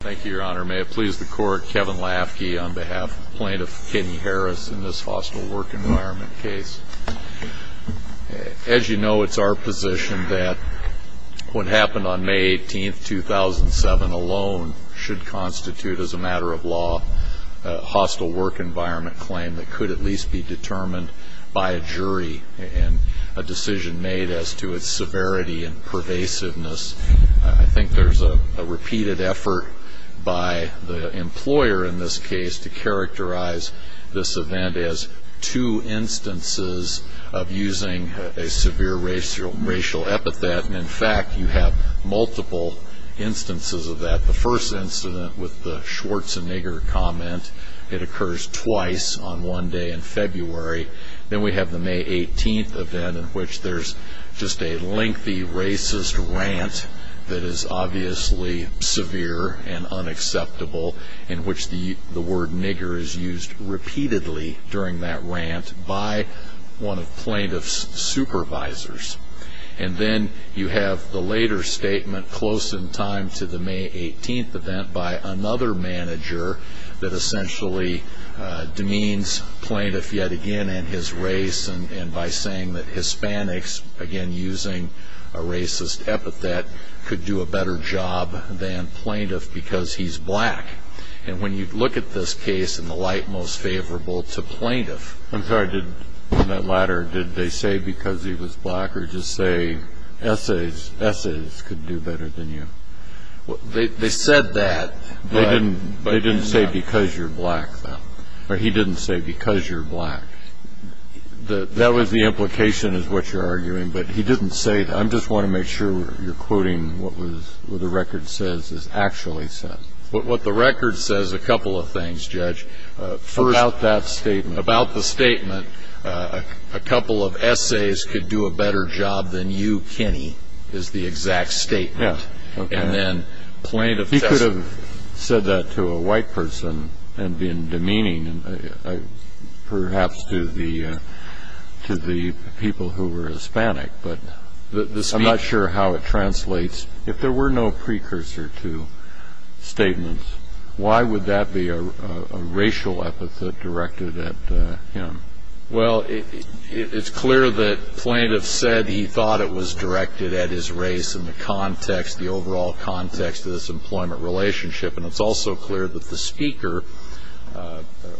Thank you, Your Honor. May it please the Court, Kevin Lafke on behalf of Plaintiff Kenny Harris in this hostile work environment case. As you know, it's our position that what happened on May 18, 2007 alone should constitute, as a matter of law, a hostile work environment claim that could at least be determined by a jury and a decision made as to its severity and pervasiveness. I think there's a repeated effort by the employer in this case to characterize this event as two instances of using a severe racial epithet. In fact, you have multiple instances of that. The first incident with the Schwarzenegger comment, it occurs twice on one day in February. Then we have the May 18 event in which there's just a lengthy racist rant that is obviously severe and unacceptable, in which the word nigger is used repeatedly during that rant by one of plaintiff's supervisors. Then you have the later statement close in time to the May 18 event by another manager that essentially demeans plaintiff yet again and his race by saying that Hispanics, again using a racist epithet, could do a better job than plaintiff because he's black. When you look at this case in the light most favorable to plaintiff... I'm sorry, did they say because he was black or just say essays could do better than you? They said that, but... They didn't say because you're black, though. He didn't say because you're black. That was the implication is what you're arguing, but he didn't say that. I just want to make sure you're quoting what the record says is actually said. What the record says is a couple of things, Judge. First... About that statement. About the statement, a couple of essays could do a better job than you, Kenny, is the exact statement. Yeah, okay. And then plaintiff... He could have said that to a white person and been demeaning, perhaps to the people who were Hispanic, but the speech... Why would that be a racial epithet directed at him? Well, it's clear that plaintiff said he thought it was directed at his race in the context, the overall context of this employment relationship, and it's also clear that the speaker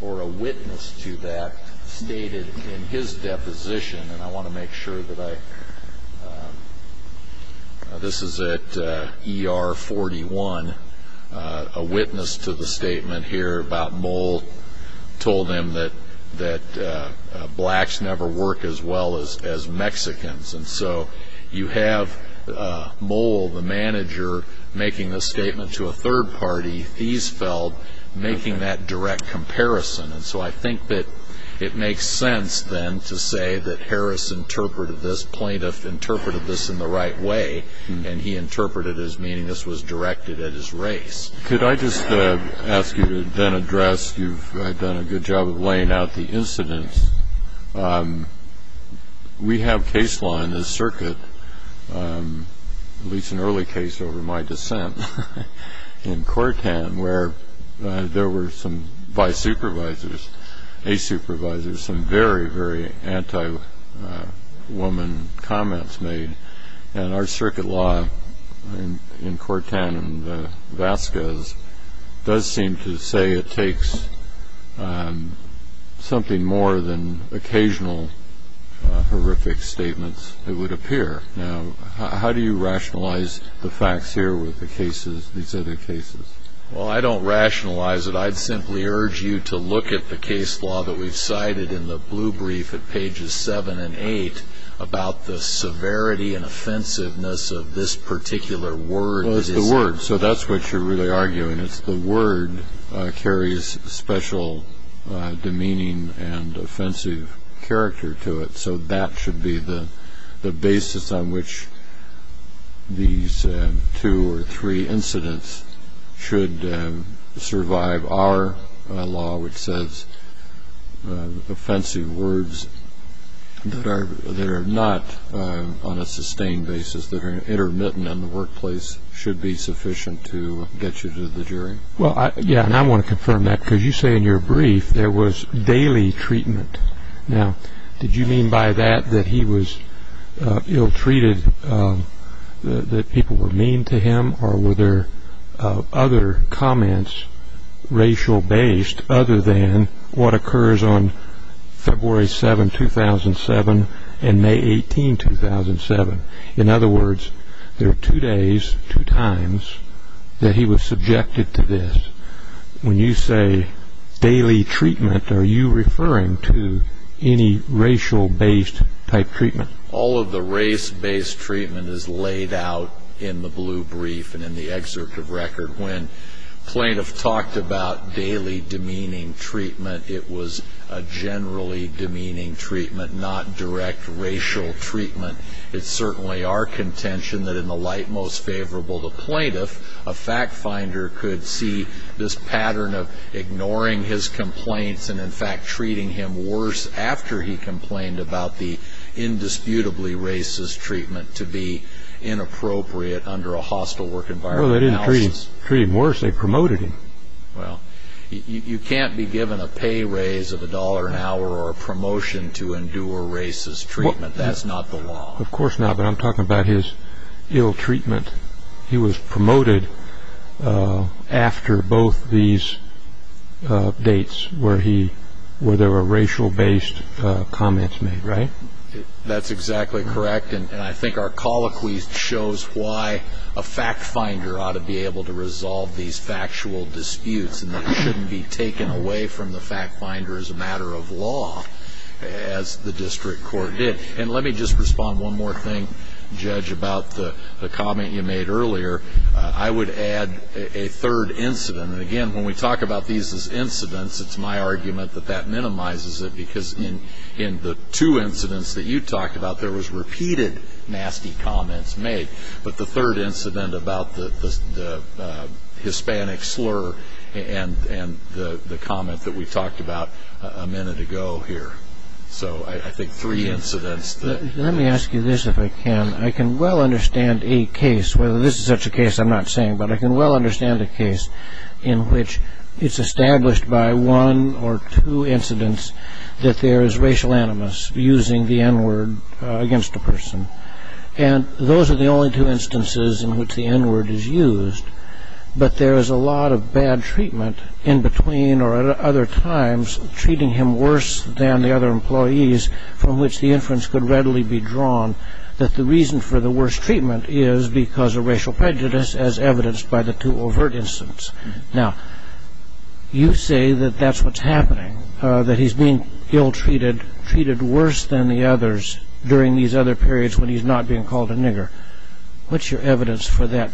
or a witness to that stated in his deposition, and I want to make sure that I... This is at ER 41. A witness to the statement here about Moll told him that blacks never work as well as Mexicans, and so you have Moll, the manager, making this statement to a third party, Fiesfeld, making that direct comparison, and so I think that it makes sense, then, to say that Harris interpreted this, plaintiff interpreted this in the right way, and he interpreted it as meaning this was directed at his race. Could I just ask you to then address... You've done a good job of laying out the incidents. We have case law in this circuit, at least an early case over my descent in Cortan, where there were some vice supervisors, a supervisors, some very, very anti-woman comments made, and our circuit law in Cortan and Vasquez does seem to say it takes something more than occasional horrific statements, it would appear. Now, how do you rationalize the facts here with the cases, these other cases? Well, I don't rationalize it. I'd simply urge you to look at the case law that we've cited in the blue brief at pages 7 and 8 about the severity and offensiveness of this particular word. Well, it's the word, so that's what you're really arguing. It's the word carries special demeaning and offensive character to it, so that should be the basis on which these two or three incidents should survive our law, which says offensive words that are not on a sustained basis, that are intermittent in the workplace should be sufficient to get you to the jury. Well, yeah, and I want to confirm that, because you say in your brief there was daily treatment. Now, did you mean by that that he was ill-treated, that people were mean to him, or were there other comments racial-based other than what occurs on February 7, 2007 and May 18, 2007? In other words, there are two days, two times that he was subjected to this. When you say daily treatment, are you referring to any racial-based type treatment? All of the race-based treatment is laid out in the blue brief and in the excerpt of record. When plaintiff talked about daily demeaning treatment, it was a generally demeaning treatment, not direct racial treatment. It's certainly our contention that in the light most favorable to plaintiff, a fact-finder could see this pattern of ignoring his complaints and in fact treating him worse after he complained about the indisputably racist treatment to be inappropriate under a hostile work environment. No, they didn't treat him worse. They promoted him. Well, you can't be given a pay raise of a dollar an hour or a promotion to endure racist treatment. That's not the law. Of course not, but I'm talking about his ill treatment. He was promoted after both these dates where there were racial-based comments made, right? That's exactly correct, and I think our colloquy shows why a fact-finder ought to be able to resolve these factual disputes and that he shouldn't be taken away from the fact-finder as a matter of law, as the district court did. Let me just respond one more thing, Judge, about the comment you made earlier. I would add a third incident. Again, when we talk about these as incidents, it's my argument that that minimizes it because in the two incidents that you talked about, there was repeated nasty comments made, but the third incident about the Hispanic slur and the comment that we talked about a minute ago here. So I think three incidents. Let me ask you this, if I can. I can well understand a case, whether this is such a case, I'm not saying, but I can well understand a case in which it's established by one or two incidents that there is racial animus using the N-word against a person, and those are the only two instances in which the N-word is used, but there is a lot of bad treatment in between or at other times, treating him worse than the other employees from which the inference could readily be drawn that the reason for the worst treatment is because of racial prejudice, as evidenced by the two overt incidents. Now, you say that that's what's happening, that he's being ill-treated, treated worse than the others during these other periods when he's not being called a nigger. What's your evidence for that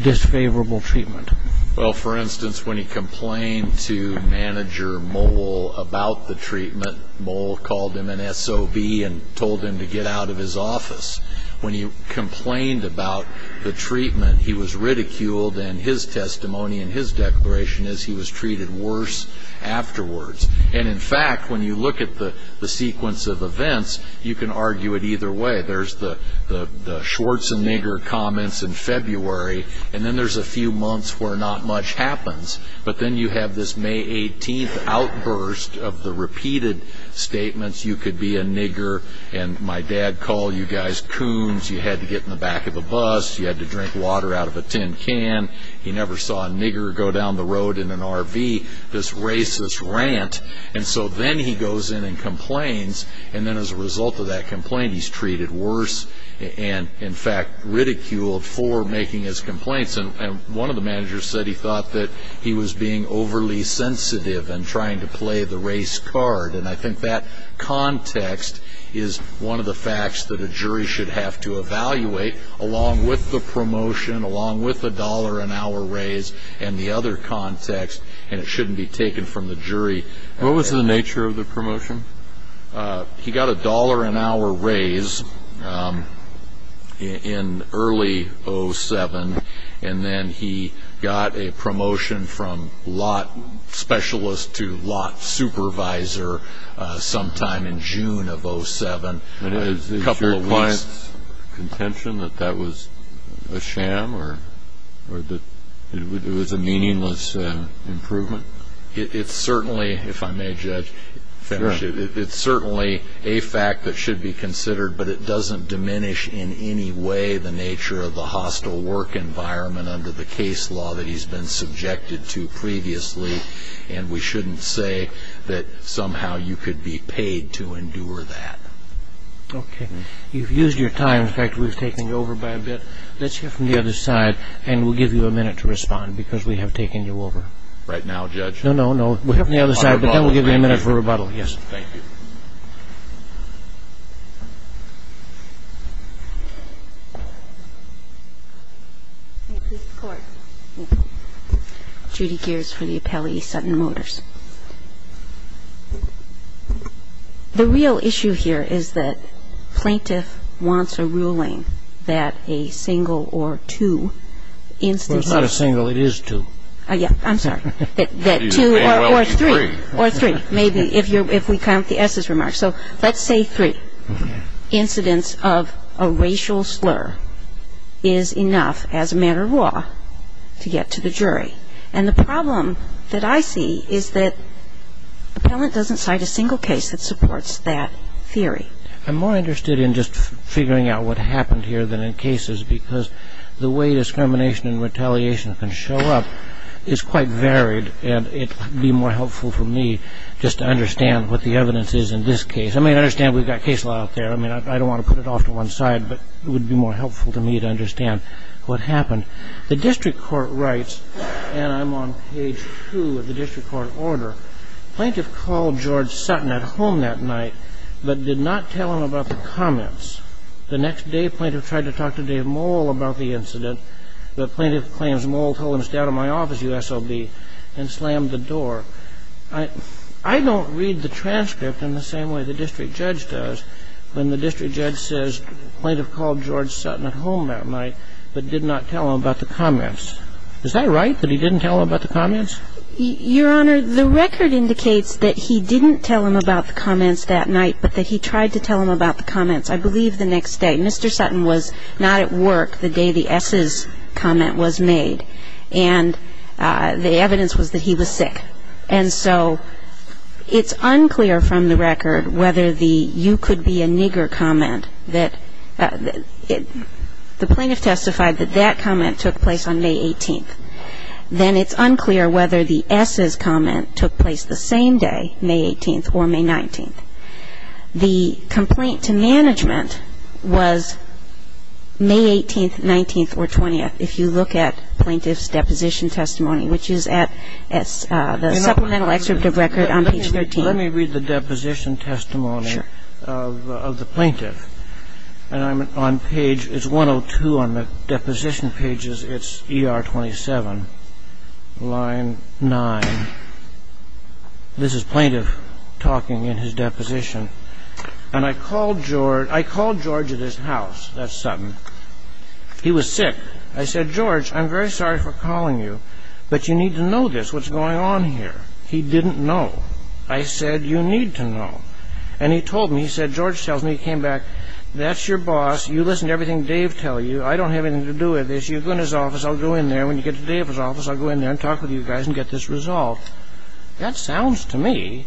disfavorable treatment? Well, for instance, when he complained to manager Moll about the treatment, Moll called him an SOB and told him to get out of his office. When he complained about the treatment, he was ridiculed, and his testimony and his declaration is he was treated worse afterwards. And in fact, when you look at the sequence of events, you can argue it either way. There's the Schwarzenegger comments in February, and then there's a few months where not much happens. But then you have this May 18th outburst of the repeated statements, you could be a nigger, and my dad called you guys coons, you had to get in the back of a bus, you had to drink water out of a tin can, you never saw a nigger go down the road in an RV, this racist rant. And so then he goes in and complains, and then as a result of that complaint, he's treated worse, and in fact ridiculed for making his complaints. And one of the managers said he thought that he was being overly sensitive and trying to play the race card. And I think that context is one of the facts that a jury should have to evaluate, along with the promotion, along with the dollar an hour raise, and the other context, and it shouldn't be taken from the jury. What was the nature of the promotion? He got a dollar an hour raise in early 07, and then he got a promotion from lot specialist to lot supervisor sometime in June of 07. And is your client's contention that that was a sham, or that it was a meaningless improvement? It's certainly, if I may judge, it's certainly a fact that should be considered, but it doesn't diminish in any way the nature of the hostile work environment under the case law that he's been subjected to previously, and we shouldn't say that somehow you could be paid to endure that. Okay. You've used your time. In fact, we've taken you over by a bit. Let's hear from the other side, and we'll give you a minute to respond, because we have taken you over. Right now, Judge? No, no, no. We'll hear from the other side, but then we'll give you a minute for rebuttal. Yes. Thank you. Judy Geers for the Appellee Sutton Motors. The real issue here is that plaintiff wants a ruling that a single or two instances... Well, it's not a single. It is two. Oh, yeah. I'm sorry. That two or three. Or three, maybe, if we count the S's remarks. So let's say three incidents of a racial slur is enough as a matter of law to get to the jury. And the problem that I see is that appellant doesn't cite a single case that supports that theory. I'm more interested in just figuring out what happened here than in cases, because the way discrimination and retaliation can show up is quite varied, and it would be more helpful for me just to understand what the evidence is in this case. I mean, I understand we've got case law out there. I mean, I don't want to put it off to one side, but it would be more helpful to me to understand what happened. The district court writes, and I'm on page two of the district court order, plaintiff called George Sutton at home that night but did not tell him about the comments. The next day, plaintiff tried to talk to Dave Mole about the incident, but plaintiff claims Mole told him to stay out of my office, U.S.O.B., and slammed the door. I don't read the transcript in the same way the district judge does when the district judge says plaintiff called George Sutton at home that night but did not tell him about the comments. Is that right, that he didn't tell him about the comments? Your Honor, the record indicates that he didn't tell him about the comments that night, but that he tried to tell him about the comments, I believe, the next day. Mr. Sutton was not at work the day the S's comment was made, and the evidence was that he was sick. And so it's unclear from the record whether the you could be a nigger comment that the plaintiff testified that that comment took place on May 18th. Then it's unclear whether the S's comment took place the same day, May 18th or May 19th. The complaint to management was May 18th, 19th, or 20th, if you look at plaintiff's deposition testimony, which is at the supplemental excerpt of record on page 13. Let me read the deposition testimony of the plaintiff. And I'm on page, it's 102 on the deposition pages, it's ER 27, line 9. This is plaintiff talking in his deposition. And I called George at his house, that's Sutton. He was sick. I said, George, I'm very sorry for calling you, but you need to know this, what's going on here. He didn't know. I said, you need to know. And he told me, he said, George tells me, he came back, that's your boss. You listen to everything Dave tells you. I don't have anything to do with this. You go in his office, I'll go in there. When you get to Dave's office, I'll go in there and talk with you guys and get this resolved. That sounds to me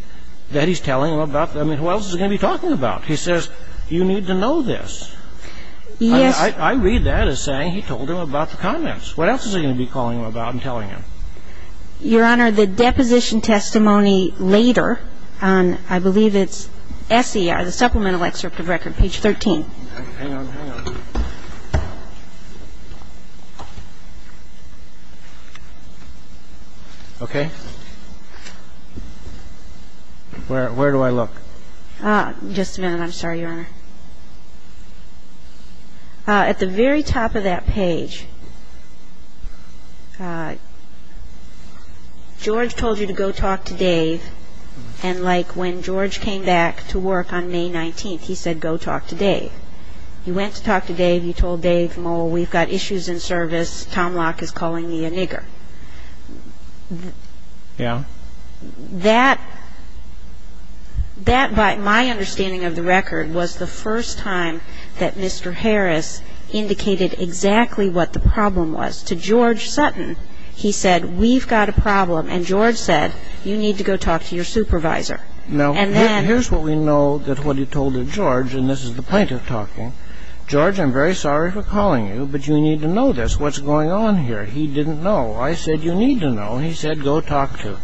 that he's telling him about, I mean, who else is he going to be talking about? He says, you need to know this. Yes. I read that as saying he told him about the comments. What else is he going to be calling him about and telling him? Your Honor, the deposition testimony later on, I believe it's S.E.R., the Supplemental Excerpt of Record, page 13. Hang on, hang on. Okay. Where do I look? Just a minute. I'm sorry, Your Honor. At the very top of that page, George told you to go talk to Dave. And, like, when George came back to work on May 19th, he said, go talk to Dave. You went to talk to Dave. You told Dave, we've got issues in service. Tom Locke is calling me a nigger. Yeah. That, by my understanding of the record, was the first time that Mr. Harris indicated exactly what the problem was. To George Sutton, he said, we've got a problem. And George said, you need to go talk to your supervisor. Now, here's what we know that what he told to George, and this is the plaintiff talking, George, I'm very sorry for calling you, but you need to know this. What's going on here? He didn't know. I said, you need to know. And he said, go talk to.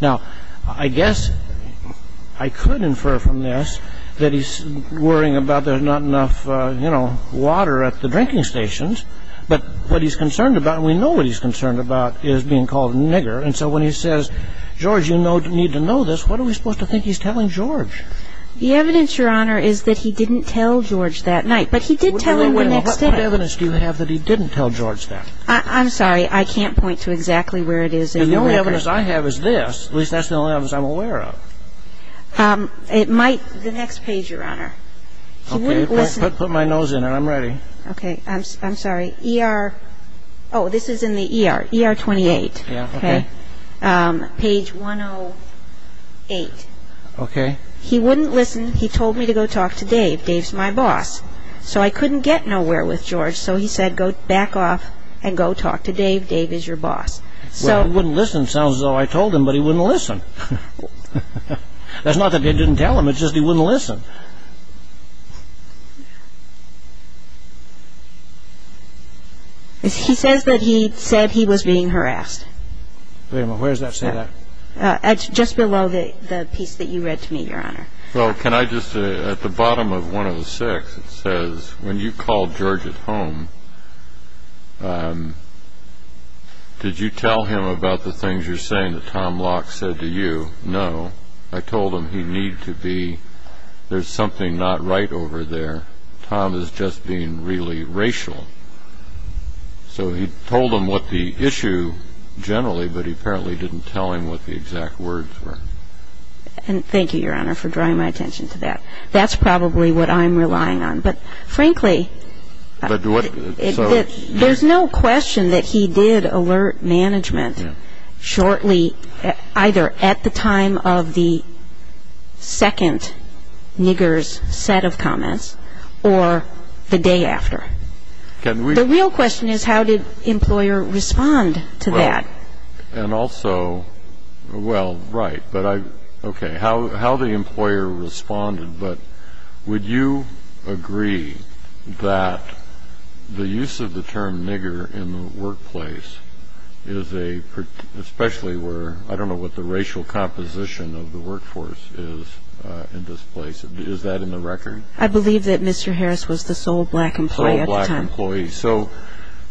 Now, I guess I could infer from this that he's worrying about there's not enough, you know, water at the drinking stations. But what he's concerned about, and we know what he's concerned about, is being called a nigger. And so when he says, George, you need to know this, what are we supposed to think he's telling George? The evidence, Your Honor, is that he didn't tell George that night. But he did tell him the next day. What kind of evidence do you have that he didn't tell George that? I'm sorry. I can't point to exactly where it is. And the only evidence I have is this. At least that's the only evidence I'm aware of. It might be the next page, Your Honor. Okay. Put my nose in it. I'm ready. Okay. I'm sorry. ER. Oh, this is in the ER. ER 28. Okay. Page 108. Okay. He wouldn't listen. He told me to go talk to Dave. Dave's my boss. So I couldn't get nowhere with George. So he said, go back off and go talk to Dave. Dave is your boss. Well, wouldn't listen sounds as though I told him, but he wouldn't listen. That's not that I didn't tell him. It's just he wouldn't listen. He says that he said he was being harassed. Wait a minute. Where does that say that? Just below the piece that you read to me, Your Honor. Well, can I just, at the bottom of 106, it says, when you called George at home, did you tell him about the things you're saying that Tom Locke said to you? No. I told him he need to be, there's something not right over there. Tom is just being really racial. So he told him what the issue generally, but he apparently didn't tell him what the exact words were. And thank you, Your Honor, for drawing my attention to that. That's probably what I'm relying on. But, frankly, there's no question that he did alert management shortly, either at the time of the second nigger's set of comments or the day after. The real question is, how did the employer respond to that? And also, well, right, but I, okay, how the employer responded, but would you agree that the use of the term nigger in the workplace is a, especially where, I don't know what the racial composition of the workforce is in this place, is that in the record? I believe that Mr. Harris was the sole black employee at the time. Sole black employee. So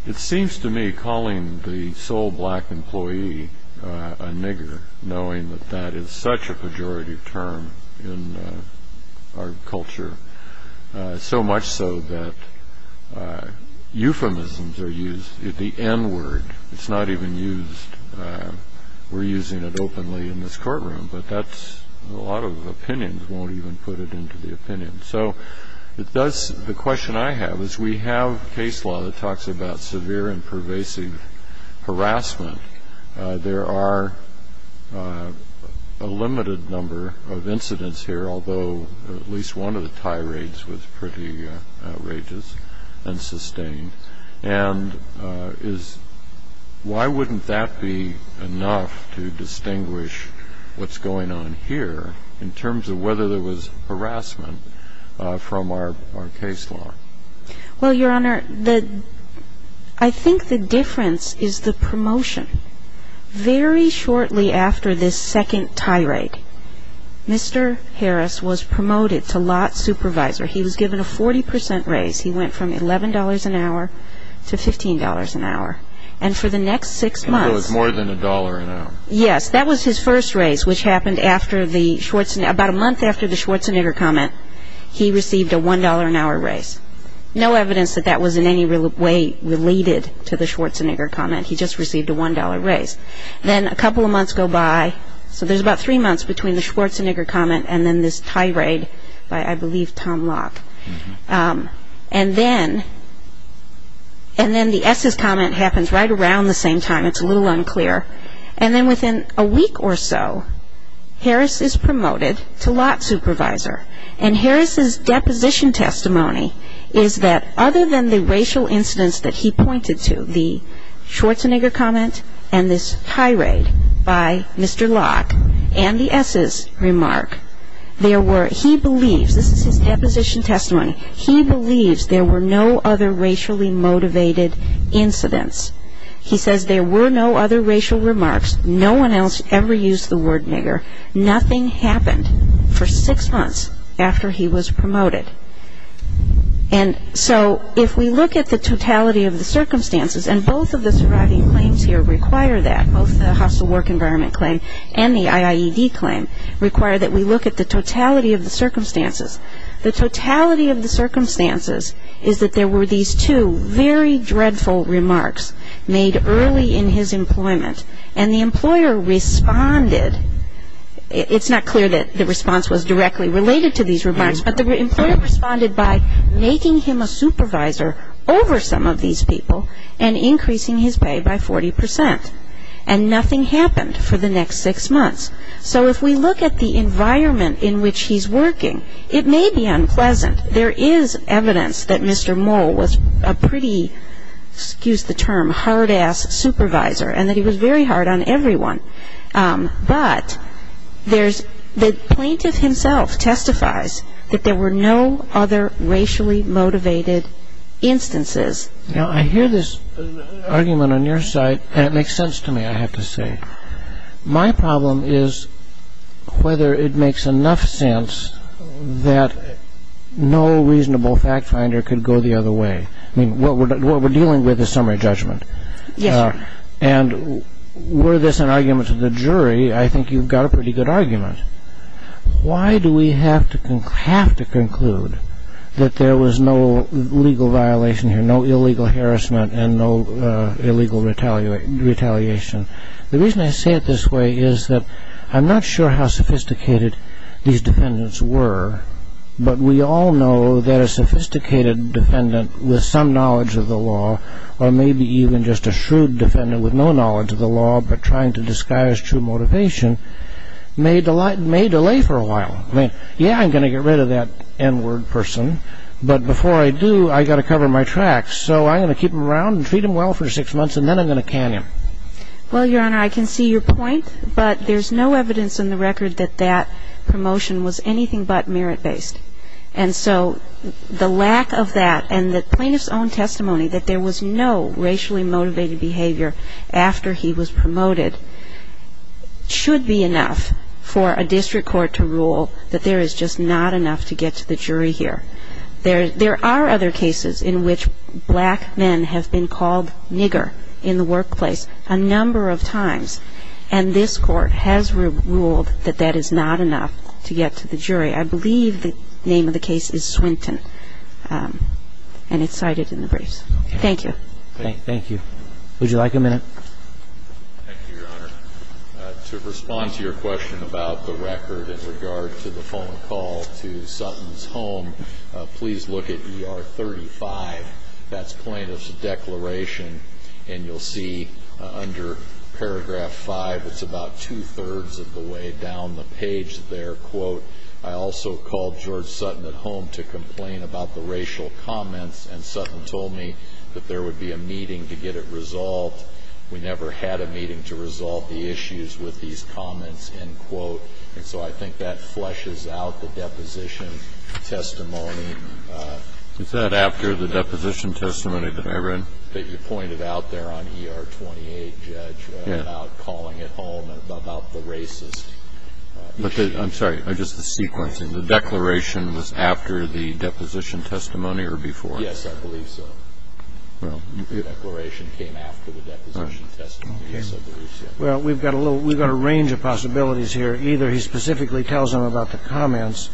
it seems to me calling the sole black employee a nigger, knowing that that is such a pejorative term in our culture, so much so that euphemisms are used. The n-word, it's not even used. We're using it openly in this courtroom, but that's, a lot of opinions won't even put it into the opinion. So it does, the question I have is, we have case law that talks about severe and pervasive harassment. There are a limited number of incidents here, although at least one of the tirades was pretty outrageous and sustained, and why wouldn't that be enough to distinguish what's going on here in terms of whether there was harassment from our case law? Well, Your Honor, I think the difference is the promotion. Very shortly after this second tirade, Mr. Harris was promoted to lot supervisor. He was given a 40 percent raise. He went from $11 an hour to $15 an hour, and for the next six months. So it was more than a dollar an hour. Yes, that was his first raise, which happened after the Schwarzenegger, about a month after the Schwarzenegger comment, he received a $1 an hour raise. No evidence that that was in any way related to the Schwarzenegger comment. He just received a $1 raise. Then a couple of months go by, so there's about three months between the Schwarzenegger comment and then this tirade by, I believe, Tom Locke. And then the S's comment happens right around the same time. It's a little unclear. And then within a week or so, Harris is promoted to lot supervisor. And Harris's deposition testimony is that other than the racial incidents that he pointed to, the Schwarzenegger comment and this tirade by Mr. Locke and the S's remark, there were, he believes, this is his deposition testimony, he believes there were no other racially motivated incidents. He says there were no other racial remarks. No one else ever used the word nigger. Nothing happened for six months after he was promoted. And so if we look at the totality of the circumstances, and both of the surviving claims here require that, both the hostile work environment claim and the IIED claim, require that we look at the totality of the circumstances. The totality of the circumstances is that there were these two very dreadful remarks made early in his employment, and the employer responded. It's not clear that the response was directly related to these remarks, but the employer responded by making him a supervisor over some of these people and increasing his pay by 40%. And nothing happened for the next six months. So if we look at the environment in which he's working, it may be unpleasant. There is evidence that Mr. Mole was a pretty, excuse the term, hard-ass supervisor and that he was very hard on everyone. But the plaintiff himself testifies that there were no other racially motivated instances. Now, I hear this argument on your side, and it makes sense to me, I have to say. My problem is whether it makes enough sense that no reasonable fact finder could go the other way. I mean, what we're dealing with is summary judgment. And were this an argument to the jury, I think you've got a pretty good argument. Why do we have to conclude that there was no legal violation here, no illegal harassment and no illegal retaliation? The reason I say it this way is that I'm not sure how sophisticated these defendants were, but we all know that a sophisticated defendant with some knowledge of the law or maybe even just a shrewd defendant with no knowledge of the law but trying to disguise true motivation may delay for a while. I mean, yeah, I'm going to get rid of that N-word person. But before I do, I've got to cover my tracks. So I'm going to keep him around and treat him well for six months, and then I'm going to can him. Well, Your Honor, I can see your point, but there's no evidence in the record that that promotion was anything but merit-based. And so the lack of that and the plaintiff's own testimony that there was no racially motivated behavior after he was promoted should be enough for a district court to rule that there is just not enough to get to the jury here. There are other cases in which black men have been called nigger in the workplace a number of times, and this Court has ruled that that is not enough to get to the jury. I believe the name of the case is Swinton, and it's cited in the briefs. Thank you. Thank you. Would you like a minute? Thank you, Your Honor. To respond to your question about the record in regard to the phone call to Sutton's home, please look at ER 35. That's plaintiff's declaration, and you'll see under paragraph 5, it's about two-thirds of the way down the page there, quote, I also called George Sutton at home to complain about the racial comments, and Sutton told me that there would be a meeting to get it resolved. We never had a meeting to resolve the issues with these comments, end quote. And so I think that fleshes out the deposition testimony. Is that after the deposition testimony that I read? That you pointed out there on ER 28, Judge, about calling at home about the racist issue. I'm sorry. Just the sequencing. The declaration was after the deposition testimony or before? Yes, I believe so. The declaration came after the deposition testimony. Well, we've got a range of possibilities here. Either he specifically tells them about the comments,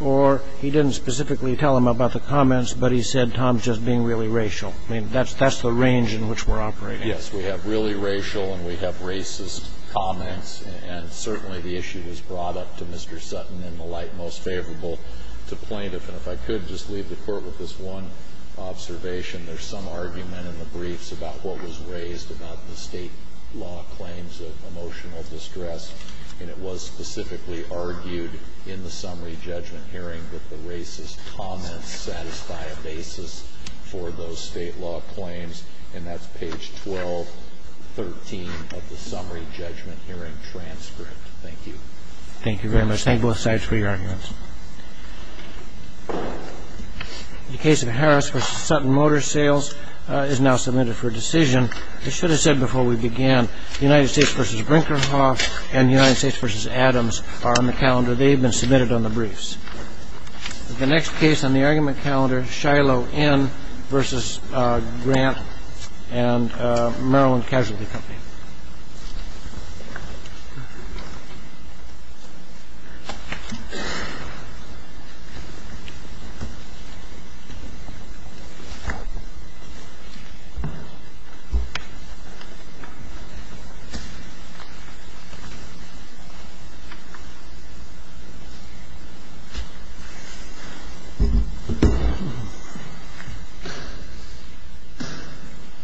or he didn't specifically tell them about the comments, but he said Tom's just being really racial. I mean, that's the range in which we're operating. Yes, we have really racial and we have racist comments, and certainly the issue was brought up to Mr. Sutton in the light most favorable to plaintiff. And if I could just leave the court with this one observation, there's some argument in the briefs about what was raised about the state law claims of emotional distress, and it was specifically argued in the summary judgment hearing that the racist comments satisfy a basis for those state law claims, and that's page 1213 of the summary judgment hearing transcript. Thank you. Thank you very much. Thank both sides for your arguments. The case of Harris v. Sutton Motor Sales is now submitted for decision. I should have said before we began, the United States v. Brinkerhoff and the United States v. Adams are on the calendar. They've been submitted on the briefs. The next case on the argument calendar, Shiloh N. v. Grant and Maryland Casualty Company. Thank you.